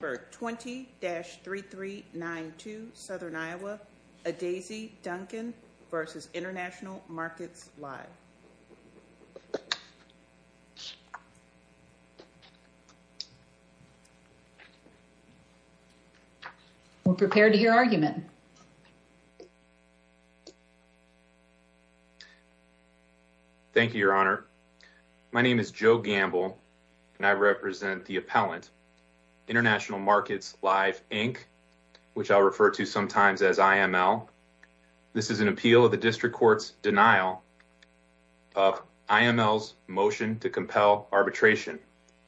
for 20-3392 Southern Iowa, Adaeze Duncan v. International Markets Live. We're prepared to hear argument. Thank you, Your Honor. My name is Joe Gamble and I represent the appellant International Markets Live, Inc., which I'll refer to sometimes as IML. This is an appeal of the district court's denial of IML's motion to compel arbitration.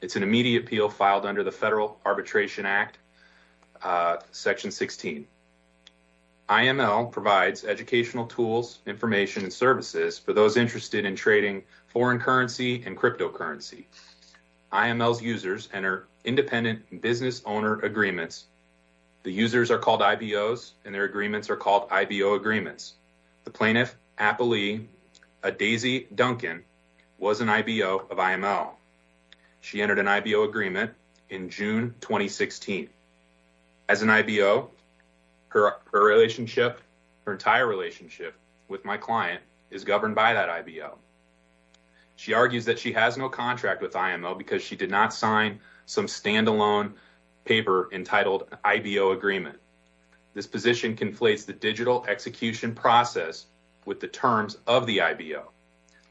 It's an immediate appeal filed under the Federal Arbitration Act, Section 16. IML provides educational tools, information, and services for those interested in trading foreign currency and cryptocurrency. IML's users enter independent business owner agreements. The users are called IBOs and their agreements are called IBO agreements. The plaintiff, Appalee Adaeze Duncan, was an IBO of IML. She entered an IBO agreement in June 2016. As an IBO, her entire relationship with my client is governed by that IBO. She argues that she has no contract with IML because she did not sign some standalone paper entitled an IBO agreement. This position conflates the digital execution process with the terms of the IBO.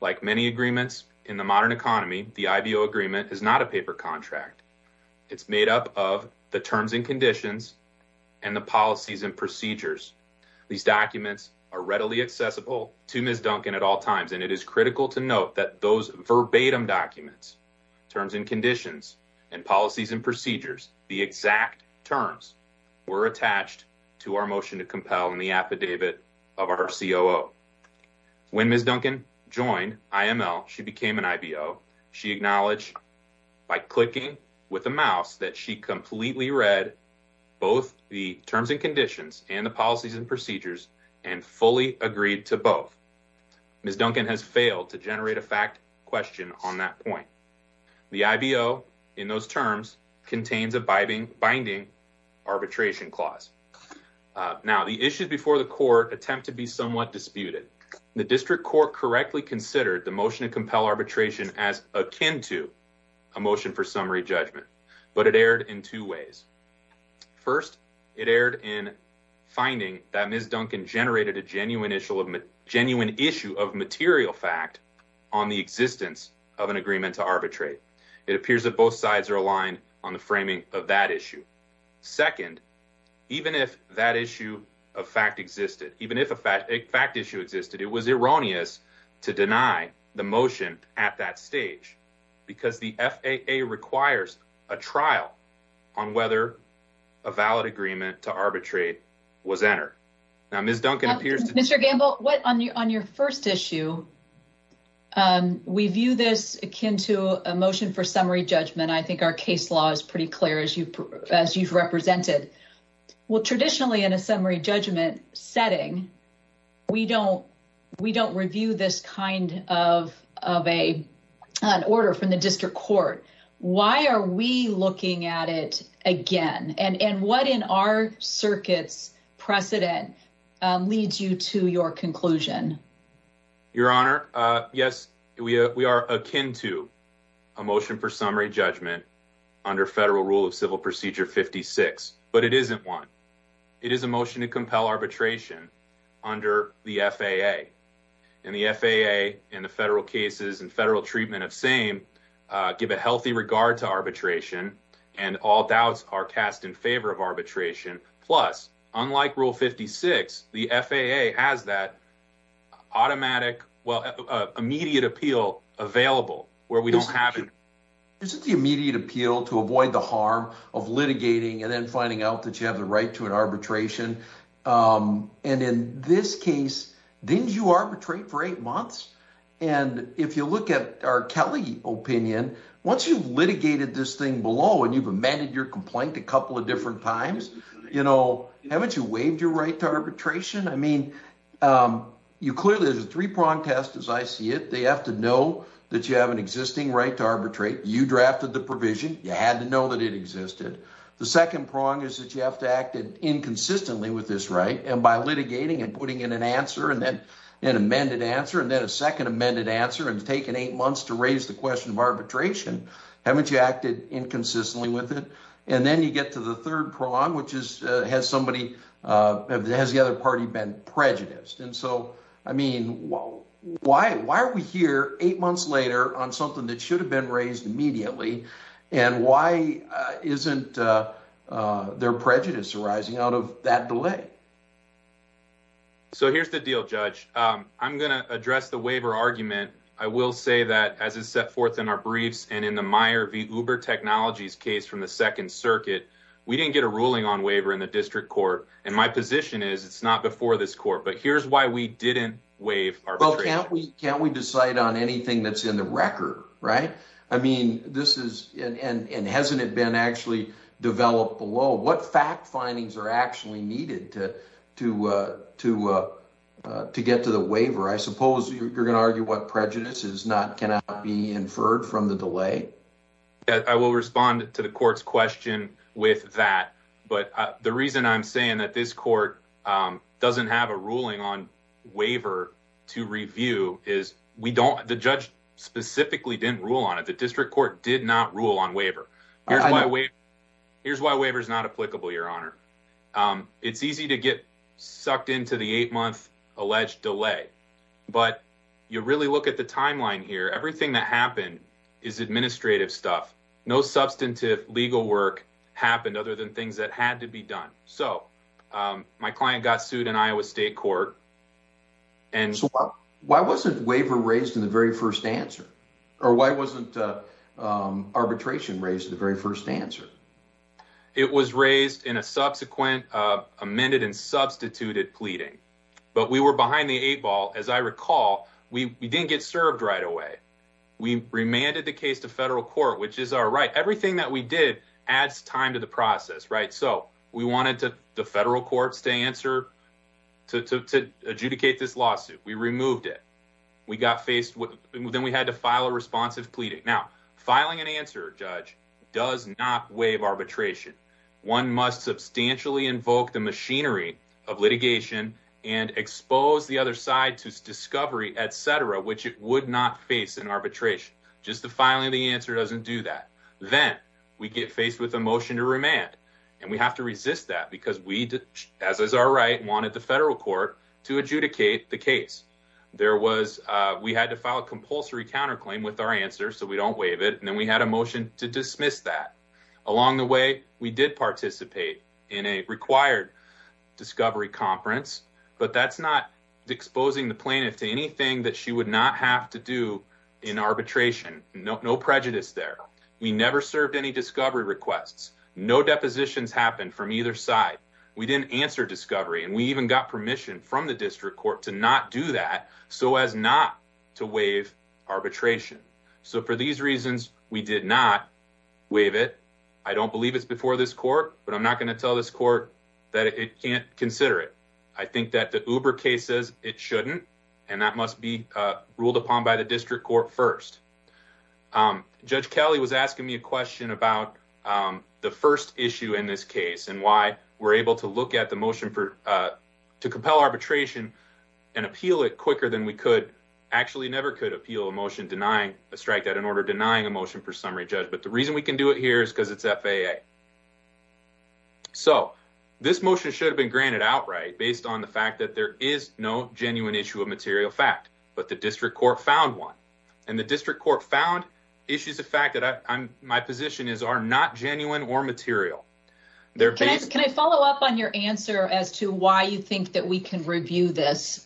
Like many agreements in the modern economy, the IBO agreement is not a paper contract. It's made up of the terms and conditions and the policies and procedures. These documents are readily accessible to Ms. Duncan at all times, and it is critical to note that those verbatim documents, terms and conditions, and policies and procedures, the exact terms, were attached to our motion to compel in the affidavit of our COO. When Ms. Duncan joined IML, she became an IBO. She acknowledged by clicking with a mouse that she completely read both the terms and conditions and the policies and procedures and fully agreed to both. Ms. Duncan has failed to generate a fact question on that point. The IBO, in those terms, contains a binding arbitration clause. Now, the issues before the court attempt to be somewhat disputed. The district court correctly considered the motion to compel arbitration as akin to a motion for summary judgment, but it erred in two ways. First, it erred in finding that Ms. Duncan generated a genuine issue of material fact on the existence of an agreement to arbitrate. It appears that both sides are aligned on the framing of that issue. Second, even if that issue of fact existed, even if a fact issue existed, it was erroneous to deny the motion at that stage because the FAA requires a trial on whether a valid agreement to arbitrate was entered. Now, Ms. Duncan appears to... Mr. Gamble, on your first issue, we view this akin to a motion for summary judgment. And I think our case law is pretty clear as you've represented. Well, traditionally, in a summary judgment setting, we don't review this kind of an order from the district court. Why are we looking at it again? And what in our circuit's precedent leads you to your conclusion? Your Honor, yes, we are akin to a motion for summary judgment under federal rule of civil procedure 56, but it isn't one. It is a motion to compel arbitration under the FAA and the FAA and the federal cases and federal treatment of same give a healthy regard to arbitration and all doubts are cast in favor of arbitration. Plus, unlike rule 56, the FAA has that automatic, well, immediate appeal available where we don't have it. Is it the immediate appeal to avoid the harm of litigating and then finding out that you have the right to an arbitration? And in this case, didn't you arbitrate for eight months? And if you look at our Kelly opinion, once you've litigated this thing below and you've amended your complaint a couple of different times, you know, haven't you waived your right to arbitration? I mean, you clearly there's a three prong test as I see it. They have to know that you have an existing right to arbitrate. You drafted the provision. You had to know that it existed. The second prong is that you have to act inconsistently with this right. And by litigating and putting in an answer and then an amended answer and then a second amended answer and taken eight months to raise the question of arbitration, haven't you acted inconsistently with it? And then you get to the third prong, which is has somebody has the other party been prejudiced? And so, I mean, why are we here eight months later on something that should have been raised immediately? And why isn't their prejudice arising out of that delay? So, here's the deal, judge. I'm going to address the waiver argument. I will say that as it's set forth in our briefs and in the Meyer v. Uber Technologies case from the second circuit, we didn't get a ruling on waiver in the district court. And my position is it's not before this court, but here's why we didn't waive. Well, can't we can't we decide on anything that's in the record, right? I mean, this is and hasn't it been actually developed below? What fact findings are actually needed to to to to get to the waiver? I suppose you're going to argue what prejudice is not cannot be inferred from the delay. I will respond to the court's question with that. But the reason I'm saying that this court doesn't have a ruling on waiver to review is we don't the judge specifically didn't rule on it. The district court did not rule on waiver. Here's why we here's why waiver is not applicable, your honor. It's easy to get sucked into the eight month alleged delay, but you really look at the timeline here. Everything that happened is administrative stuff. No substantive legal work happened other than things that had to be done. So my client got sued in Iowa State Court. And so why wasn't waiver raised in the very first answer? Or why wasn't arbitration raised in the very first answer? It was raised in a subsequent amended and substituted pleading, but we were behind the eight ball. As I recall, we didn't get served right away. We remanded the case to federal court, which is our right. Everything that we did adds time to the process, right? So we wanted to the federal courts to answer to adjudicate this lawsuit. We removed it. We got faced with then we had to file a responsive pleading. Now filing an answer. Judge does not waive arbitration. One must substantially invoke the machinery of litigation and expose the other side to discovery, etc. Which it would not face an arbitration. Just the filing of the answer doesn't do that. Then we get faced with a motion to remand and we have to resist that because we did as is our right wanted the federal court to adjudicate the case. There was we had to file a compulsory counterclaim with our answer. So we don't waive it. And then we had a motion to dismiss that along the way. We did participate in a required discovery conference, but that's not exposing the plaintiff to anything that she would not have to do in arbitration. No prejudice there. We never served any discovery requests. No depositions happened from either side. We didn't answer discovery and we even got permission from the district court to not do that. So as not to waive arbitration. So for these reasons, we did not waive it. I don't believe it's before this court, but I'm not going to tell this court that it can't consider it. I think that the uber case says it shouldn't and that must be ruled upon by the district court first. Judge Kelly was asking me a question about the first issue in this case and why we're able to look at the motion for to compel arbitration and appeal it quicker than we could actually never could appeal a motion denying a strike that in order denying a motion for summary judge. But the reason we can do it here is because it's FAA. So this motion should have been granted outright based on the fact that there is no genuine issue of material fact, but the district court found one. And the district court found issues. The fact that I'm my position is are not genuine or material there. Can I follow up on your answer as to why you think that we can review this?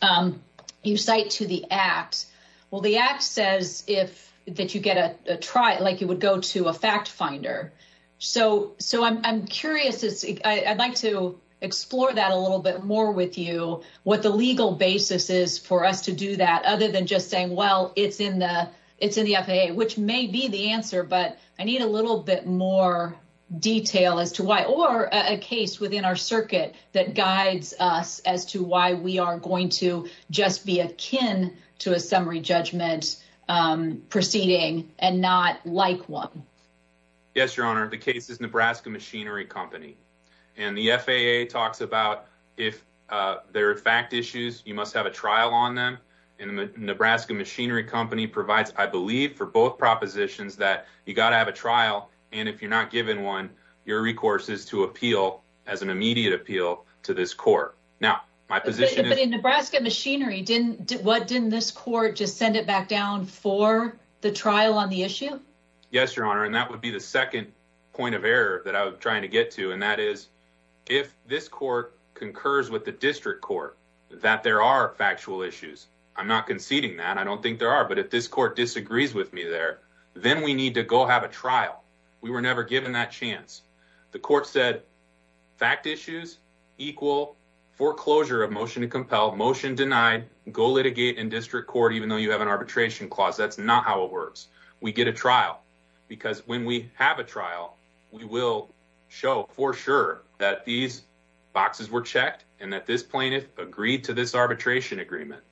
You cite to the act. Well, the act says if that you get a try it like you would go to a fact finder. So so I'm curious as I'd like to explore that a little bit more with you what the legal basis is for us to do that. Other than just saying, well, it's in the it's in the FAA, which may be the answer, but I need a little bit more detail as to why or a case within our circuit that guides us as to why we are going to just be akin to a summary judgment proceeding and not like one. Yes, your honor. The case is Nebraska Machinery Company and the FAA talks about if there are fact issues, you must have a trial on them in the Nebraska Machinery Company provides. I believe for both propositions that you gotta have a trial. And if you're not given one, your recourse is to appeal as an immediate appeal to this court. Now, my position in Nebraska Machinery didn't what didn't this court just send it back down for the trial on the issue? Yes, your honor. And that would be the second point of error that I was trying to get to. And that is, if this court concurs with the district court that there are factual issues, I'm not conceding that I don't think there are. But if this court disagrees with me there, then we need to go have a trial. We were never given that chance. The court said fact issues equal foreclosure of motion to compel motion denied. Go litigate in district court, even though you have an arbitration clause. That's not how it works. We get a trial because when we have a trial, we will show for sure that these boxes were checked and that this plaintiff agreed to this arbitration agreement.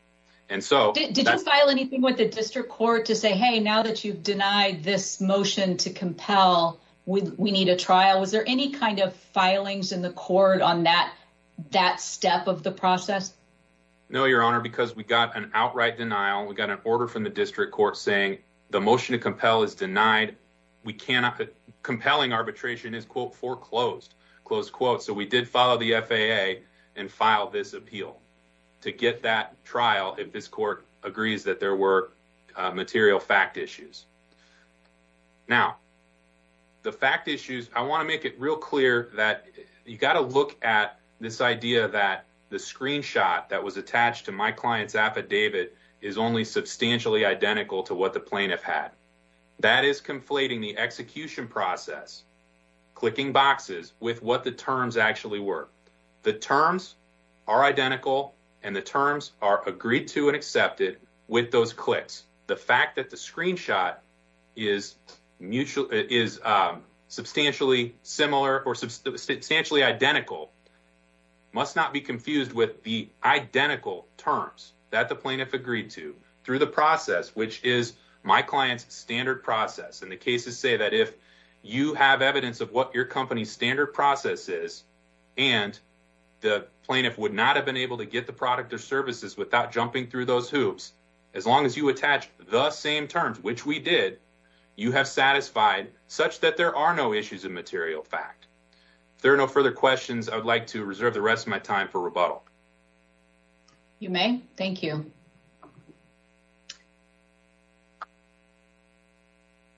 And so did you file anything with the district court to say, hey, now that you've denied this motion to compel, we need a trial. Was there any kind of filings in the court on that that step of the process? No, your honor, because we got an outright denial. We got an order from the district court saying the motion to compel is denied. We cannot compelling arbitration is, quote, foreclosed, close quote. So we did follow the FAA and file this appeal to get that trial. If this court agrees that there were material fact issues. Now, the fact issues, I want to make it real clear that you've got to look at this idea that the screenshot that was attached to my client's affidavit is only substantially identical to what the plaintiff had. That is conflating the execution process, clicking boxes with what the terms actually were. The terms are identical and the terms are agreed to and accepted with those clicks. The fact that the screenshot is mutual is substantially similar or substantially identical must not be confused with the identical terms that the plaintiff agreed to through the process, which is my client's standard process. And the cases say that if you have evidence of what your company's standard process is and the plaintiff would not have been able to get the product or services without jumping through those hoops, as long as you attach the same terms, which we did, you have satisfied such that there are no issues of material fact. There are no further questions. I would like to reserve the rest of my time for rebuttal. You may. Thank you.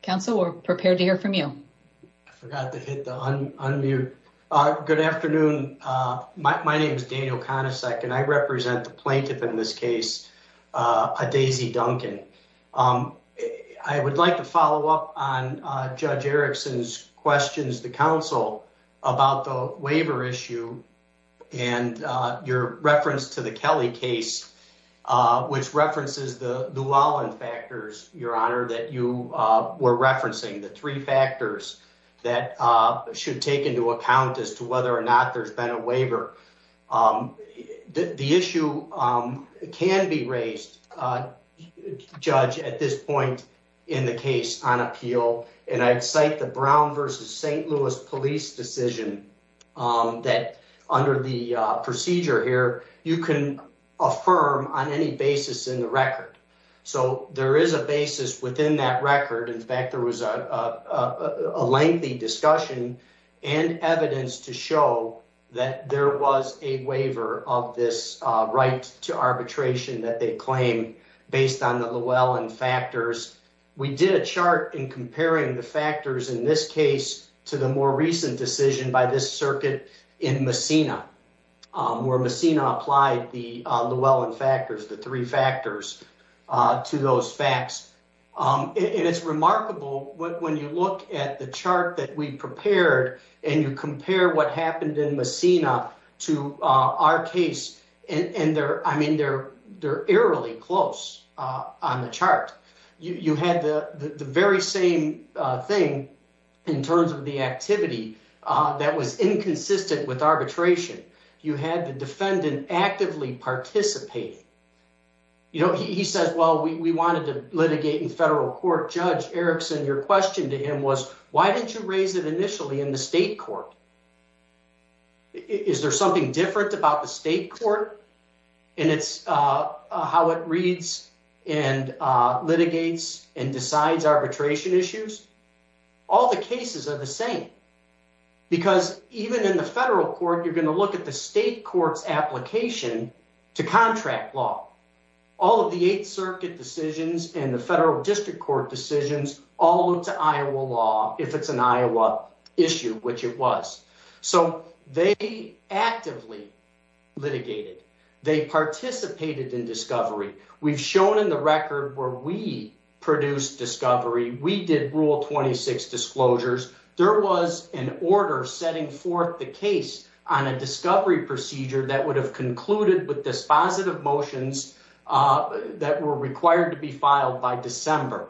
Councilor, we're prepared to hear from you. I forgot to hit the unmute. Good afternoon. My name is Daniel Konacek and I represent the plaintiff in this case, Daisy Duncan. I would like to follow up on Judge Erickson's questions to Council about the waiver issue and your reference to the Kelly case, which references the Llewellyn factors, Your Honor, that you were referencing the three factors that should take into account as to whether or not there's been a waiver. The issue can be raised, Judge, at this point in the case on appeal, and I'd cite the Brown versus St. Louis police decision that under the procedure here, you can affirm on any basis in the record. So there is a basis within that record. In fact, there was a lengthy discussion and evidence to show that there was a waiver of this right to arbitration that they claim based on the Llewellyn factors. We did a chart in comparing the factors in this case to the more recent decision by this circuit in Messina, where Messina applied the Llewellyn factors, the three factors. To those facts, and it's remarkable when you look at the chart that we prepared and you compare what happened in Messina to our case. And I mean, they're eerily close on the chart. You had the very same thing in terms of the activity that was inconsistent with arbitration. You had the defendant actively participating. You know, he says, well, we wanted to litigate in federal court. Judge Erickson, your question to him was, why didn't you raise it initially in the state court? Is there something different about the state court? And it's how it reads and litigates and decides arbitration issues. All the cases are the same. Because even in the federal court, you're going to look at the state court's application to contract law. All of the 8th Circuit decisions and the federal district court decisions all went to Iowa law, if it's an Iowa issue, which it was. So they actively litigated. They participated in discovery. We've shown in the record where we produced discovery. We did Rule 26 disclosures. There was an order setting forth the case on a discovery procedure that would have concluded with dispositive motions that were required to be filed by December.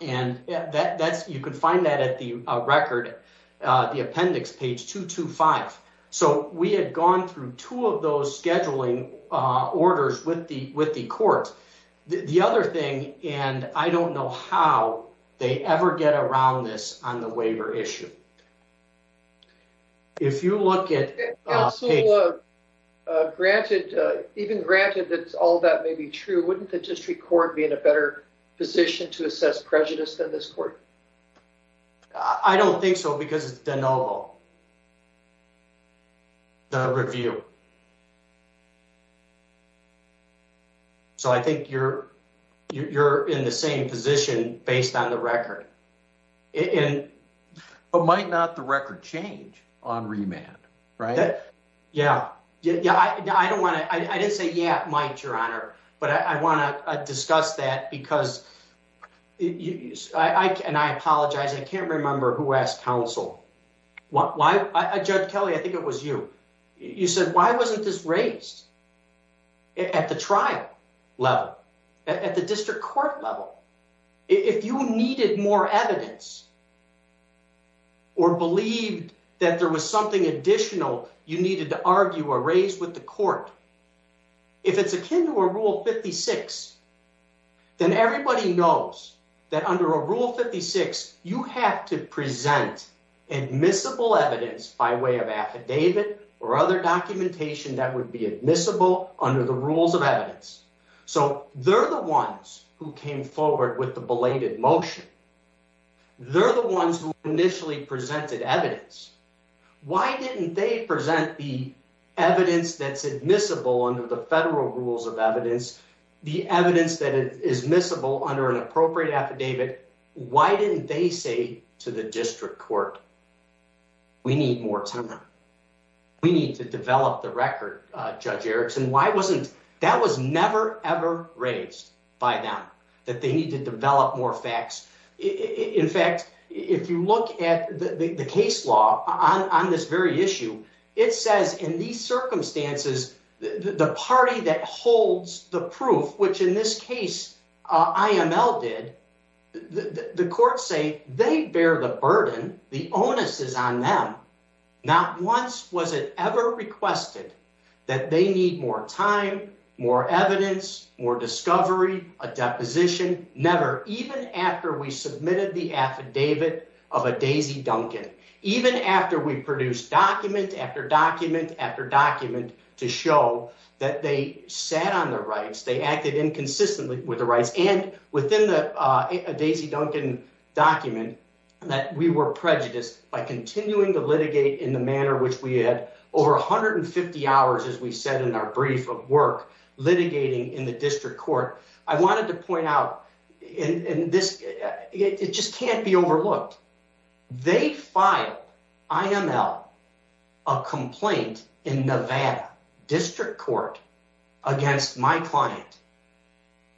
And you can find that at the record, the appendix, page 225. So we had gone through two of those scheduling orders with the court. The other thing, and I don't know how they ever get around this on the waiver issue. If you look at... Granted, even granted that all that may be true, wouldn't the district court be in a better position to assess prejudice than this court? I don't think so because it's de novo. The review. So I think you're in the same position based on the record. But might not the record change on remand, right? Yeah. Yeah. I don't want to... I didn't say, yeah, it might, Your Honor, but I want to discuss that because, and I apologize. I can't remember who asked counsel. Judge Kelly, I think it was you. You said, why wasn't this raised at the trial level, at the district court level? If you needed more evidence or believed that there was something additional you needed to argue or raise with the court, if it's akin to a Rule 56, then everybody knows that under a Rule 56 you have to present admissible evidence by way of affidavit. Or other documentation that would be admissible under the rules of evidence. So they're the ones who came forward with the belated motion. They're the ones who initially presented evidence. Why didn't they present the evidence that's admissible under the federal rules of evidence, the evidence that is admissible under an appropriate affidavit? Why didn't they say to the district court? We need more time. We need to develop the record, Judge Erickson. Why wasn't, that was never, ever raised by them, that they need to develop more facts. In fact, if you look at the case law on this very issue, it says in these circumstances, the party that holds the proof, which in this case, IML did, the courts say they bear the burden. The onus is on them. Not once was it ever requested that they need more time, more evidence, more discovery, a deposition. Never. Even after we submitted the affidavit of a Daisy Duncan, even after we produced document after document after document to show that they sat on the rights, they acted inconsistently with the rights. And within the Daisy Duncan document that we were prejudiced by continuing to litigate in the manner which we had over 150 hours, as we said in our brief of work, litigating in the district court. I wanted to point out in this, it just can't be overlooked. They filed IML, a complaint in Nevada district court against my client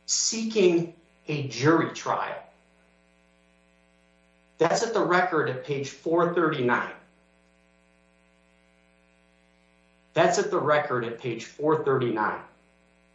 seeking a jury trial. That's at the record at page 439. That's at the record at page 439.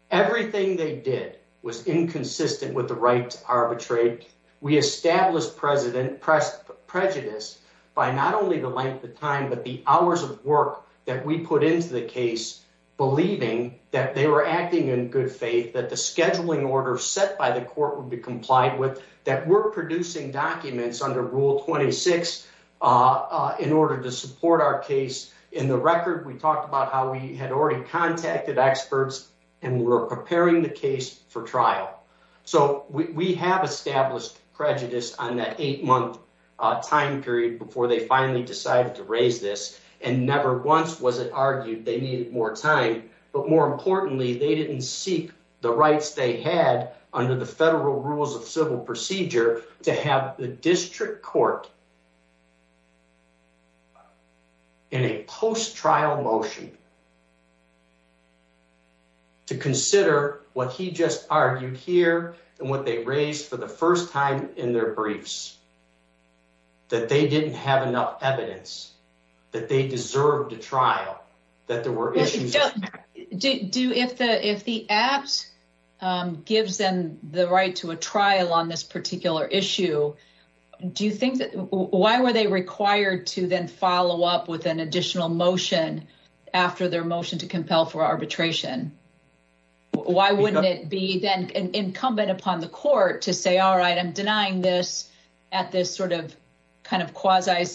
Everything they did was inconsistent with the right to arbitrate. We established prejudice by not only the length of time, but the hours of work that we put into the case, believing that they were acting in good faith, that the scheduling order set by the court would be complied with, that we're producing documents under rule 26 in order to support our case. In the record, we talked about how we had already contacted experts and we're preparing the case for trial. So we have established prejudice on that eight month time period before they finally decided to raise this and never once was it argued they needed more time. But more importantly, they didn't seek the rights they had under the federal rules of civil procedure to have the district court in a post trial motion to consider what he just argued here and what they raised for the first time in their briefs. That they didn't have enough evidence that they deserve to trial that there were issues. Do if the, if the apps gives them the right to a trial on this particular issue, do you think that why were they required to then follow up with an additional motion after their motion to compel for arbitration? Why wouldn't it be then incumbent upon the court to say, all right, I'm denying this at this sort of kind of quasi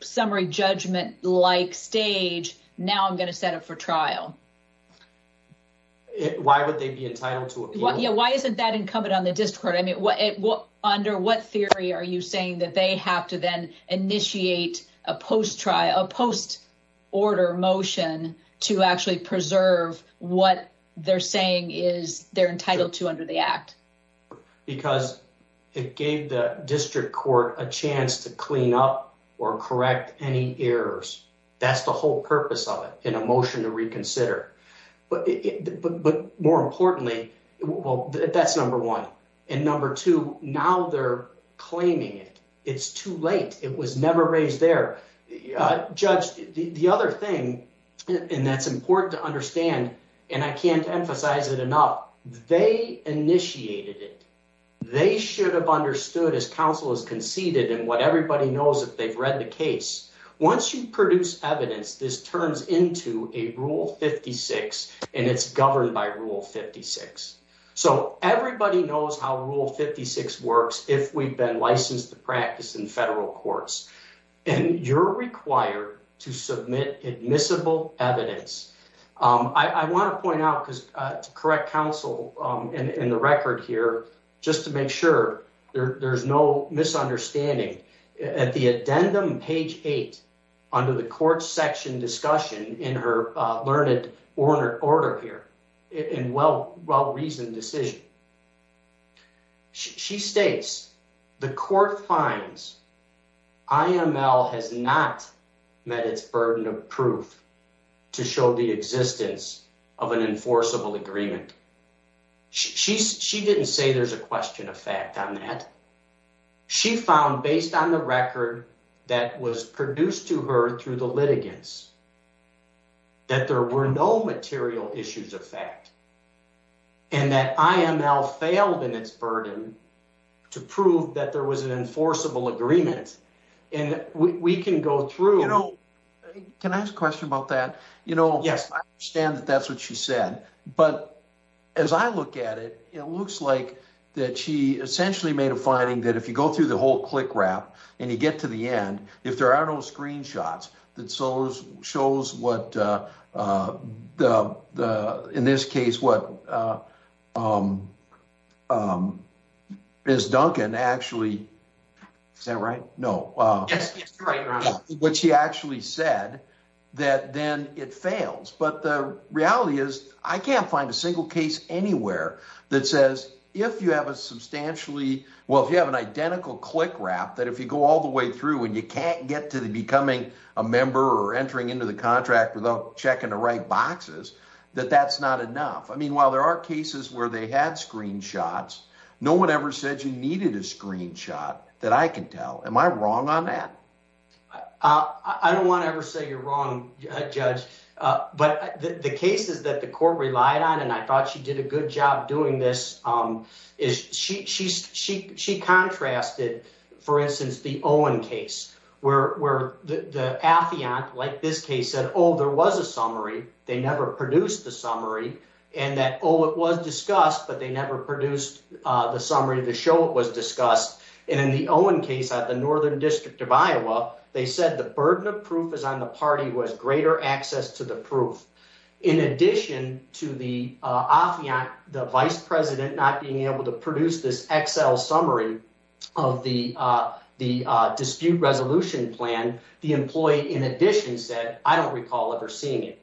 summary judgment like stage. Now I'm going to set up for trial. Why would they be entitled to it? Yeah, why isn't that incumbent on the discord? I mean, what under what theory are you saying that they have to then initiate a post trial post order motion to actually preserve what they're saying is they're entitled to under the act. Because it gave the district court a chance to clean up or correct any errors. That's the whole purpose of it in a motion to reconsider, but more importantly, well, that's number 1 and number 2. Now they're claiming it. It's too late. It was never raised their judge. The other thing, and that's important to understand, and I can't emphasize it enough. They initiated it. They should have understood as counsel is conceded and what everybody knows that they've read the case. Once you produce evidence, this turns into a Rule 56 and it's governed by Rule 56. So everybody knows how Rule 56 works. If we've been licensed to practice in federal courts and you're required to submit admissible evidence. I want to point out because to correct counsel in the record here just to make sure there's no misunderstanding at the addendum page 8 under the court section discussion in her learned order order here in well well reasoned decision. She states the court finds. IML has not met its burden of proof to show the existence of an enforceable agreement. She didn't say there's a question of fact on that. She found based on the record that was produced to her through the litigants. That there were no material issues of fact. And that I am now failed in its burden to prove that there was an enforceable agreement and we can go through. Can I ask a question about that? You know, yes, I understand that. That's what she said. But as I look at it, it looks like that. She essentially made a finding that if you go through the whole click wrap and you get to the end, if there are no screenshots that shows shows what the in this case, what is Duncan actually. Is that right? No, what she actually said that then it fails, but the reality is I can't find a single case anywhere that says if you have a substantially well, if you have an identical click wrap that if you go all the way through and you can't get to the becoming a member or entering into the contract without checking the right boxes. That that's not enough. I mean, while there are cases where they had screenshots, no one ever said you needed a screenshot that I can tell. Am I wrong on that? I don't want to ever say you're wrong, Judge, but the cases that the court relied on, and I thought she did a good job doing this is she she she she contrasted, for instance, the Owen case where the atheon like this case said, oh, there was a summary. They never produced the summary and that, oh, it was discussed, but they never produced the summary of the show. It was discussed. And in the Owen case at the northern district of Iowa, they said the burden of proof is on the party was greater access to the proof. In addition to the office, the vice president not being able to produce this Excel summary of the the dispute resolution plan, the employee in addition said, I don't recall ever seeing it.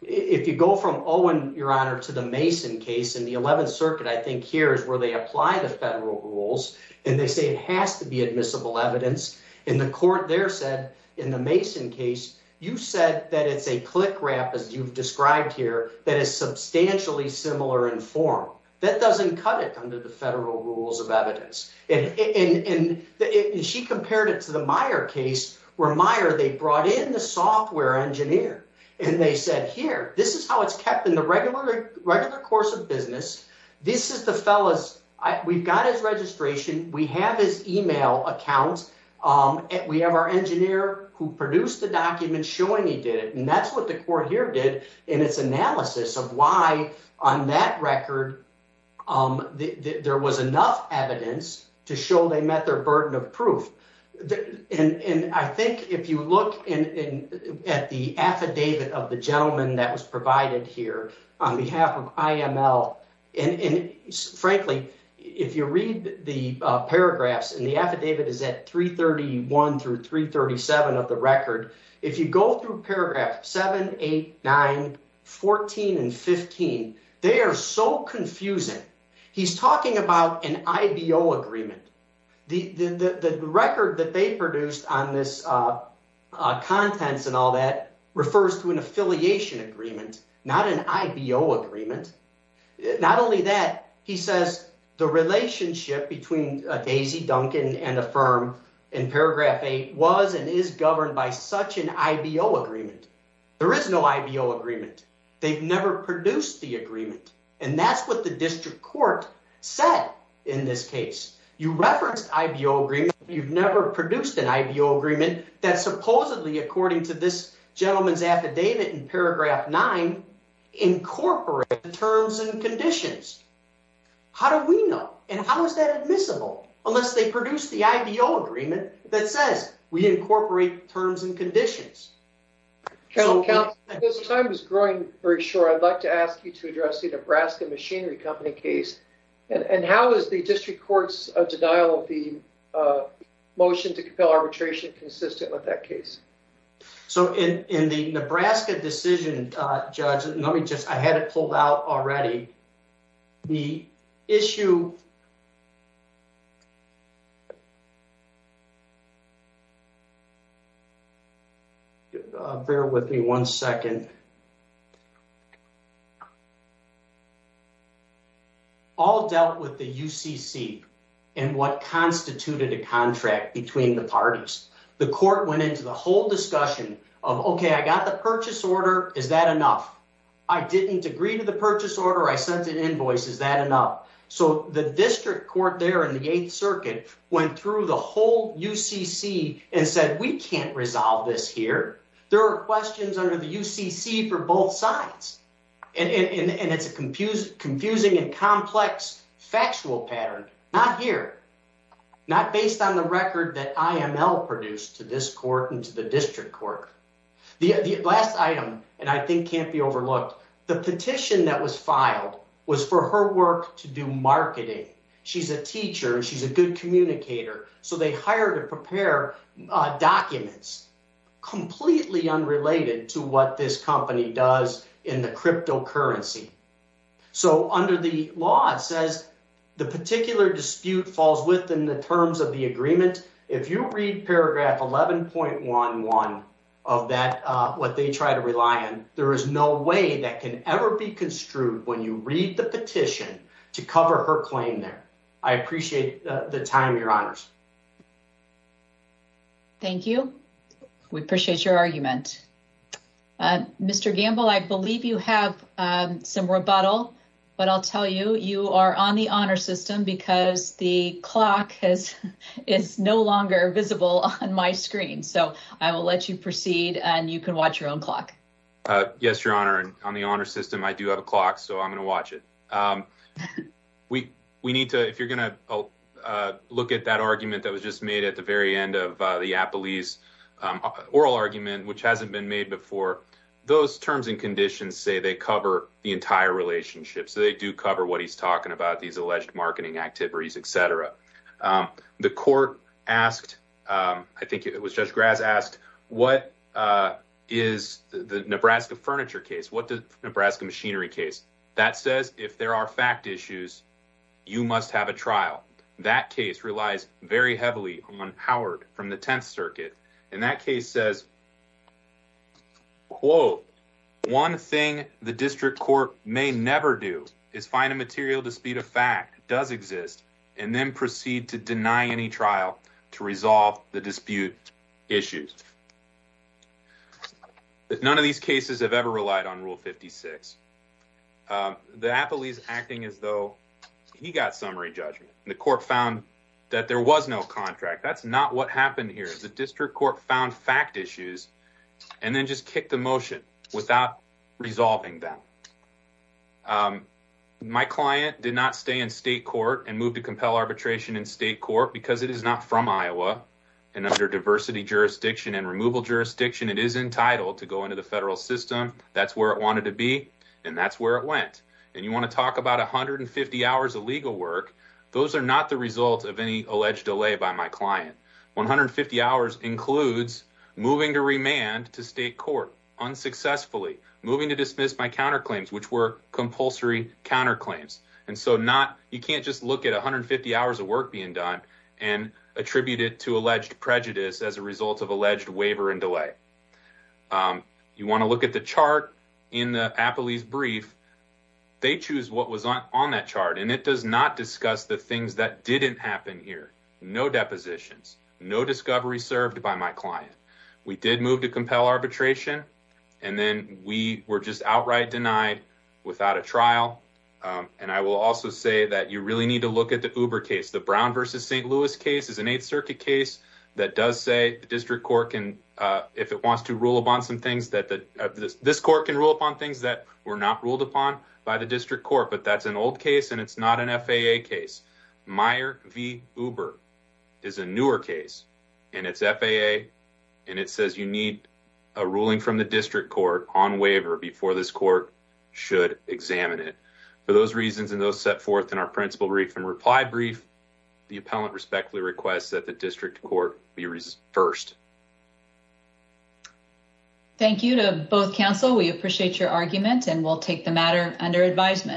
If you go from Owen, Your Honor, to the Mason case in the 11th Circuit, I think here is where they apply the federal rules and they say it has to be admissible evidence in the court. There said in the Mason case, you said that it's a click wrap, as you've described here, that is substantially similar in form that doesn't cut it under the federal rules of evidence. And she compared it to the Meyer case where Meyer they brought in the software engineer and they said here, this is how it's kept in the regular regular course of business. This is the fellas. We've got his registration. We have his email account. We have our engineer who produced the document showing he did it. And that's what the court here did in its analysis of why on that record there was enough evidence to show they met their burden of proof. And I think if you look at the affidavit of the gentleman that was provided here on behalf of IML, and frankly, if you read the paragraphs and the affidavit is at 331 through 337 of the record, if you go through paragraph 789, 14 and 15, they are so confusing. He's talking about an IBO agreement. The record that they produced on this contents and all that refers to an affiliation agreement, not an IBO agreement. Not only that, he says the relationship between Daisy Duncan and a firm in paragraph eight was and is governed by such an IBO agreement. There is no IBO agreement. They've never produced the agreement. And that's what the district court said. In this case, you referenced IBO agreement. You've never produced an IBO agreement that supposedly, according to this gentleman's affidavit in paragraph nine, incorporate the terms and conditions. How do we know? And how is that admissible unless they produce the IBO agreement that says we incorporate terms and conditions? This time is growing very short. I'd like to ask you to address the Nebraska Machinery Company case. And how is the district court's denial of the motion to compel arbitration consistent with that case? So in the Nebraska decision, Judge, let me just, I had it pulled out already. The issue. Bear with me one second. All dealt with the UCC and what constituted a contract between the parties. The court went into the whole discussion of, okay, I got the purchase order. Is that enough? I didn't agree to the purchase order. I sent an invoice. Is that enough? So the district court there in the 8th Circuit went through the whole UCC and said, we can't resolve this here. There are questions under the UCC for both sides. And it's a confusing and complex factual pattern. Not here. Not based on the record that IML produced to this court and to the district court. The last item, and I think can't be overlooked, the petition that was filed was for her work to do marketing. She's a teacher and she's a good communicator. So they hired to prepare documents completely unrelated to what this company does in the cryptocurrency. So under the law, it says the particular dispute falls within the terms of the agreement. If you read paragraph 11.11 of that, what they try to rely on, there is no way that can ever be construed when you read the petition to cover her claim there. I appreciate the time. Your honors. Thank you. We appreciate your argument. Mr. Gamble, I believe you have some rebuttal, but I'll tell you, you are on the honor system because the clock is no longer visible on my screen. So I will let you proceed and you can watch your own clock. Yes, your honor. And on the honor system, I do have a clock, so I'm going to watch it. We we need to. If you're going to look at that argument that was just made at the very end of the police oral argument, which hasn't been made before, those terms and conditions say they cover the entire relationship. So they do cover what he's talking about, these alleged marketing activities, etc. The court asked, I think it was just grass asked, what is the Nebraska furniture case? What does Nebraska machinery case that says if there are fact issues, you must have a trial? That case relies very heavily on Howard from the 10th Circuit, and that case says, quote, one thing the district court may never do is find a material dispute of fact does exist and then proceed to deny any trial to resolve the dispute issues. None of these cases have ever relied on Rule 56. The Apple is acting as though he got summary judgment. The court found that there was no contract. That's not what happened here. The district court found fact issues and then just kick the motion without resolving them. Um, my client did not stay in state court and moved to compel arbitration in state court because it is not from Iowa and under diversity jurisdiction and removal jurisdiction, it is entitled to go into the federal system. That's where it wanted to be, and that's where it went. And you want to talk about 150 hours of legal work. Those are not the result of any alleged delay by my client. 150 hours includes moving to remand to state court unsuccessfully moving to dismiss my counterclaims, which were compulsory counterclaims. And so not you can't just look at 150 hours of work being done and attributed to alleged prejudice as a result of alleged waiver and delay. Um, you want to look at the chart in the Apple is brief. They choose what was on on that chart, and it does not discuss the things that didn't happen here. No depositions, no discovery served by my client. We did move to compel arbitration, and then we were just outright denied without a trial. Um, and I will also say that you really need to look at the Uber case. The Brown versus ST Louis case is an 8th Circuit case that does say the district court can if it wants to rule upon some things that this court can rule upon things that were not ruled upon by the district court. But that's an old case, and it's not an FAA case. Meyer V Uber is a newer case, and it's FAA, and it says you need a ruling from the district court on waiver before this court should examine it. For those reasons, and those set forth in our principal brief and reply brief, the appellant respectfully requests that the district court be first. Thank you to both counsel. We appreciate your argument, and we'll take the matter under advisement.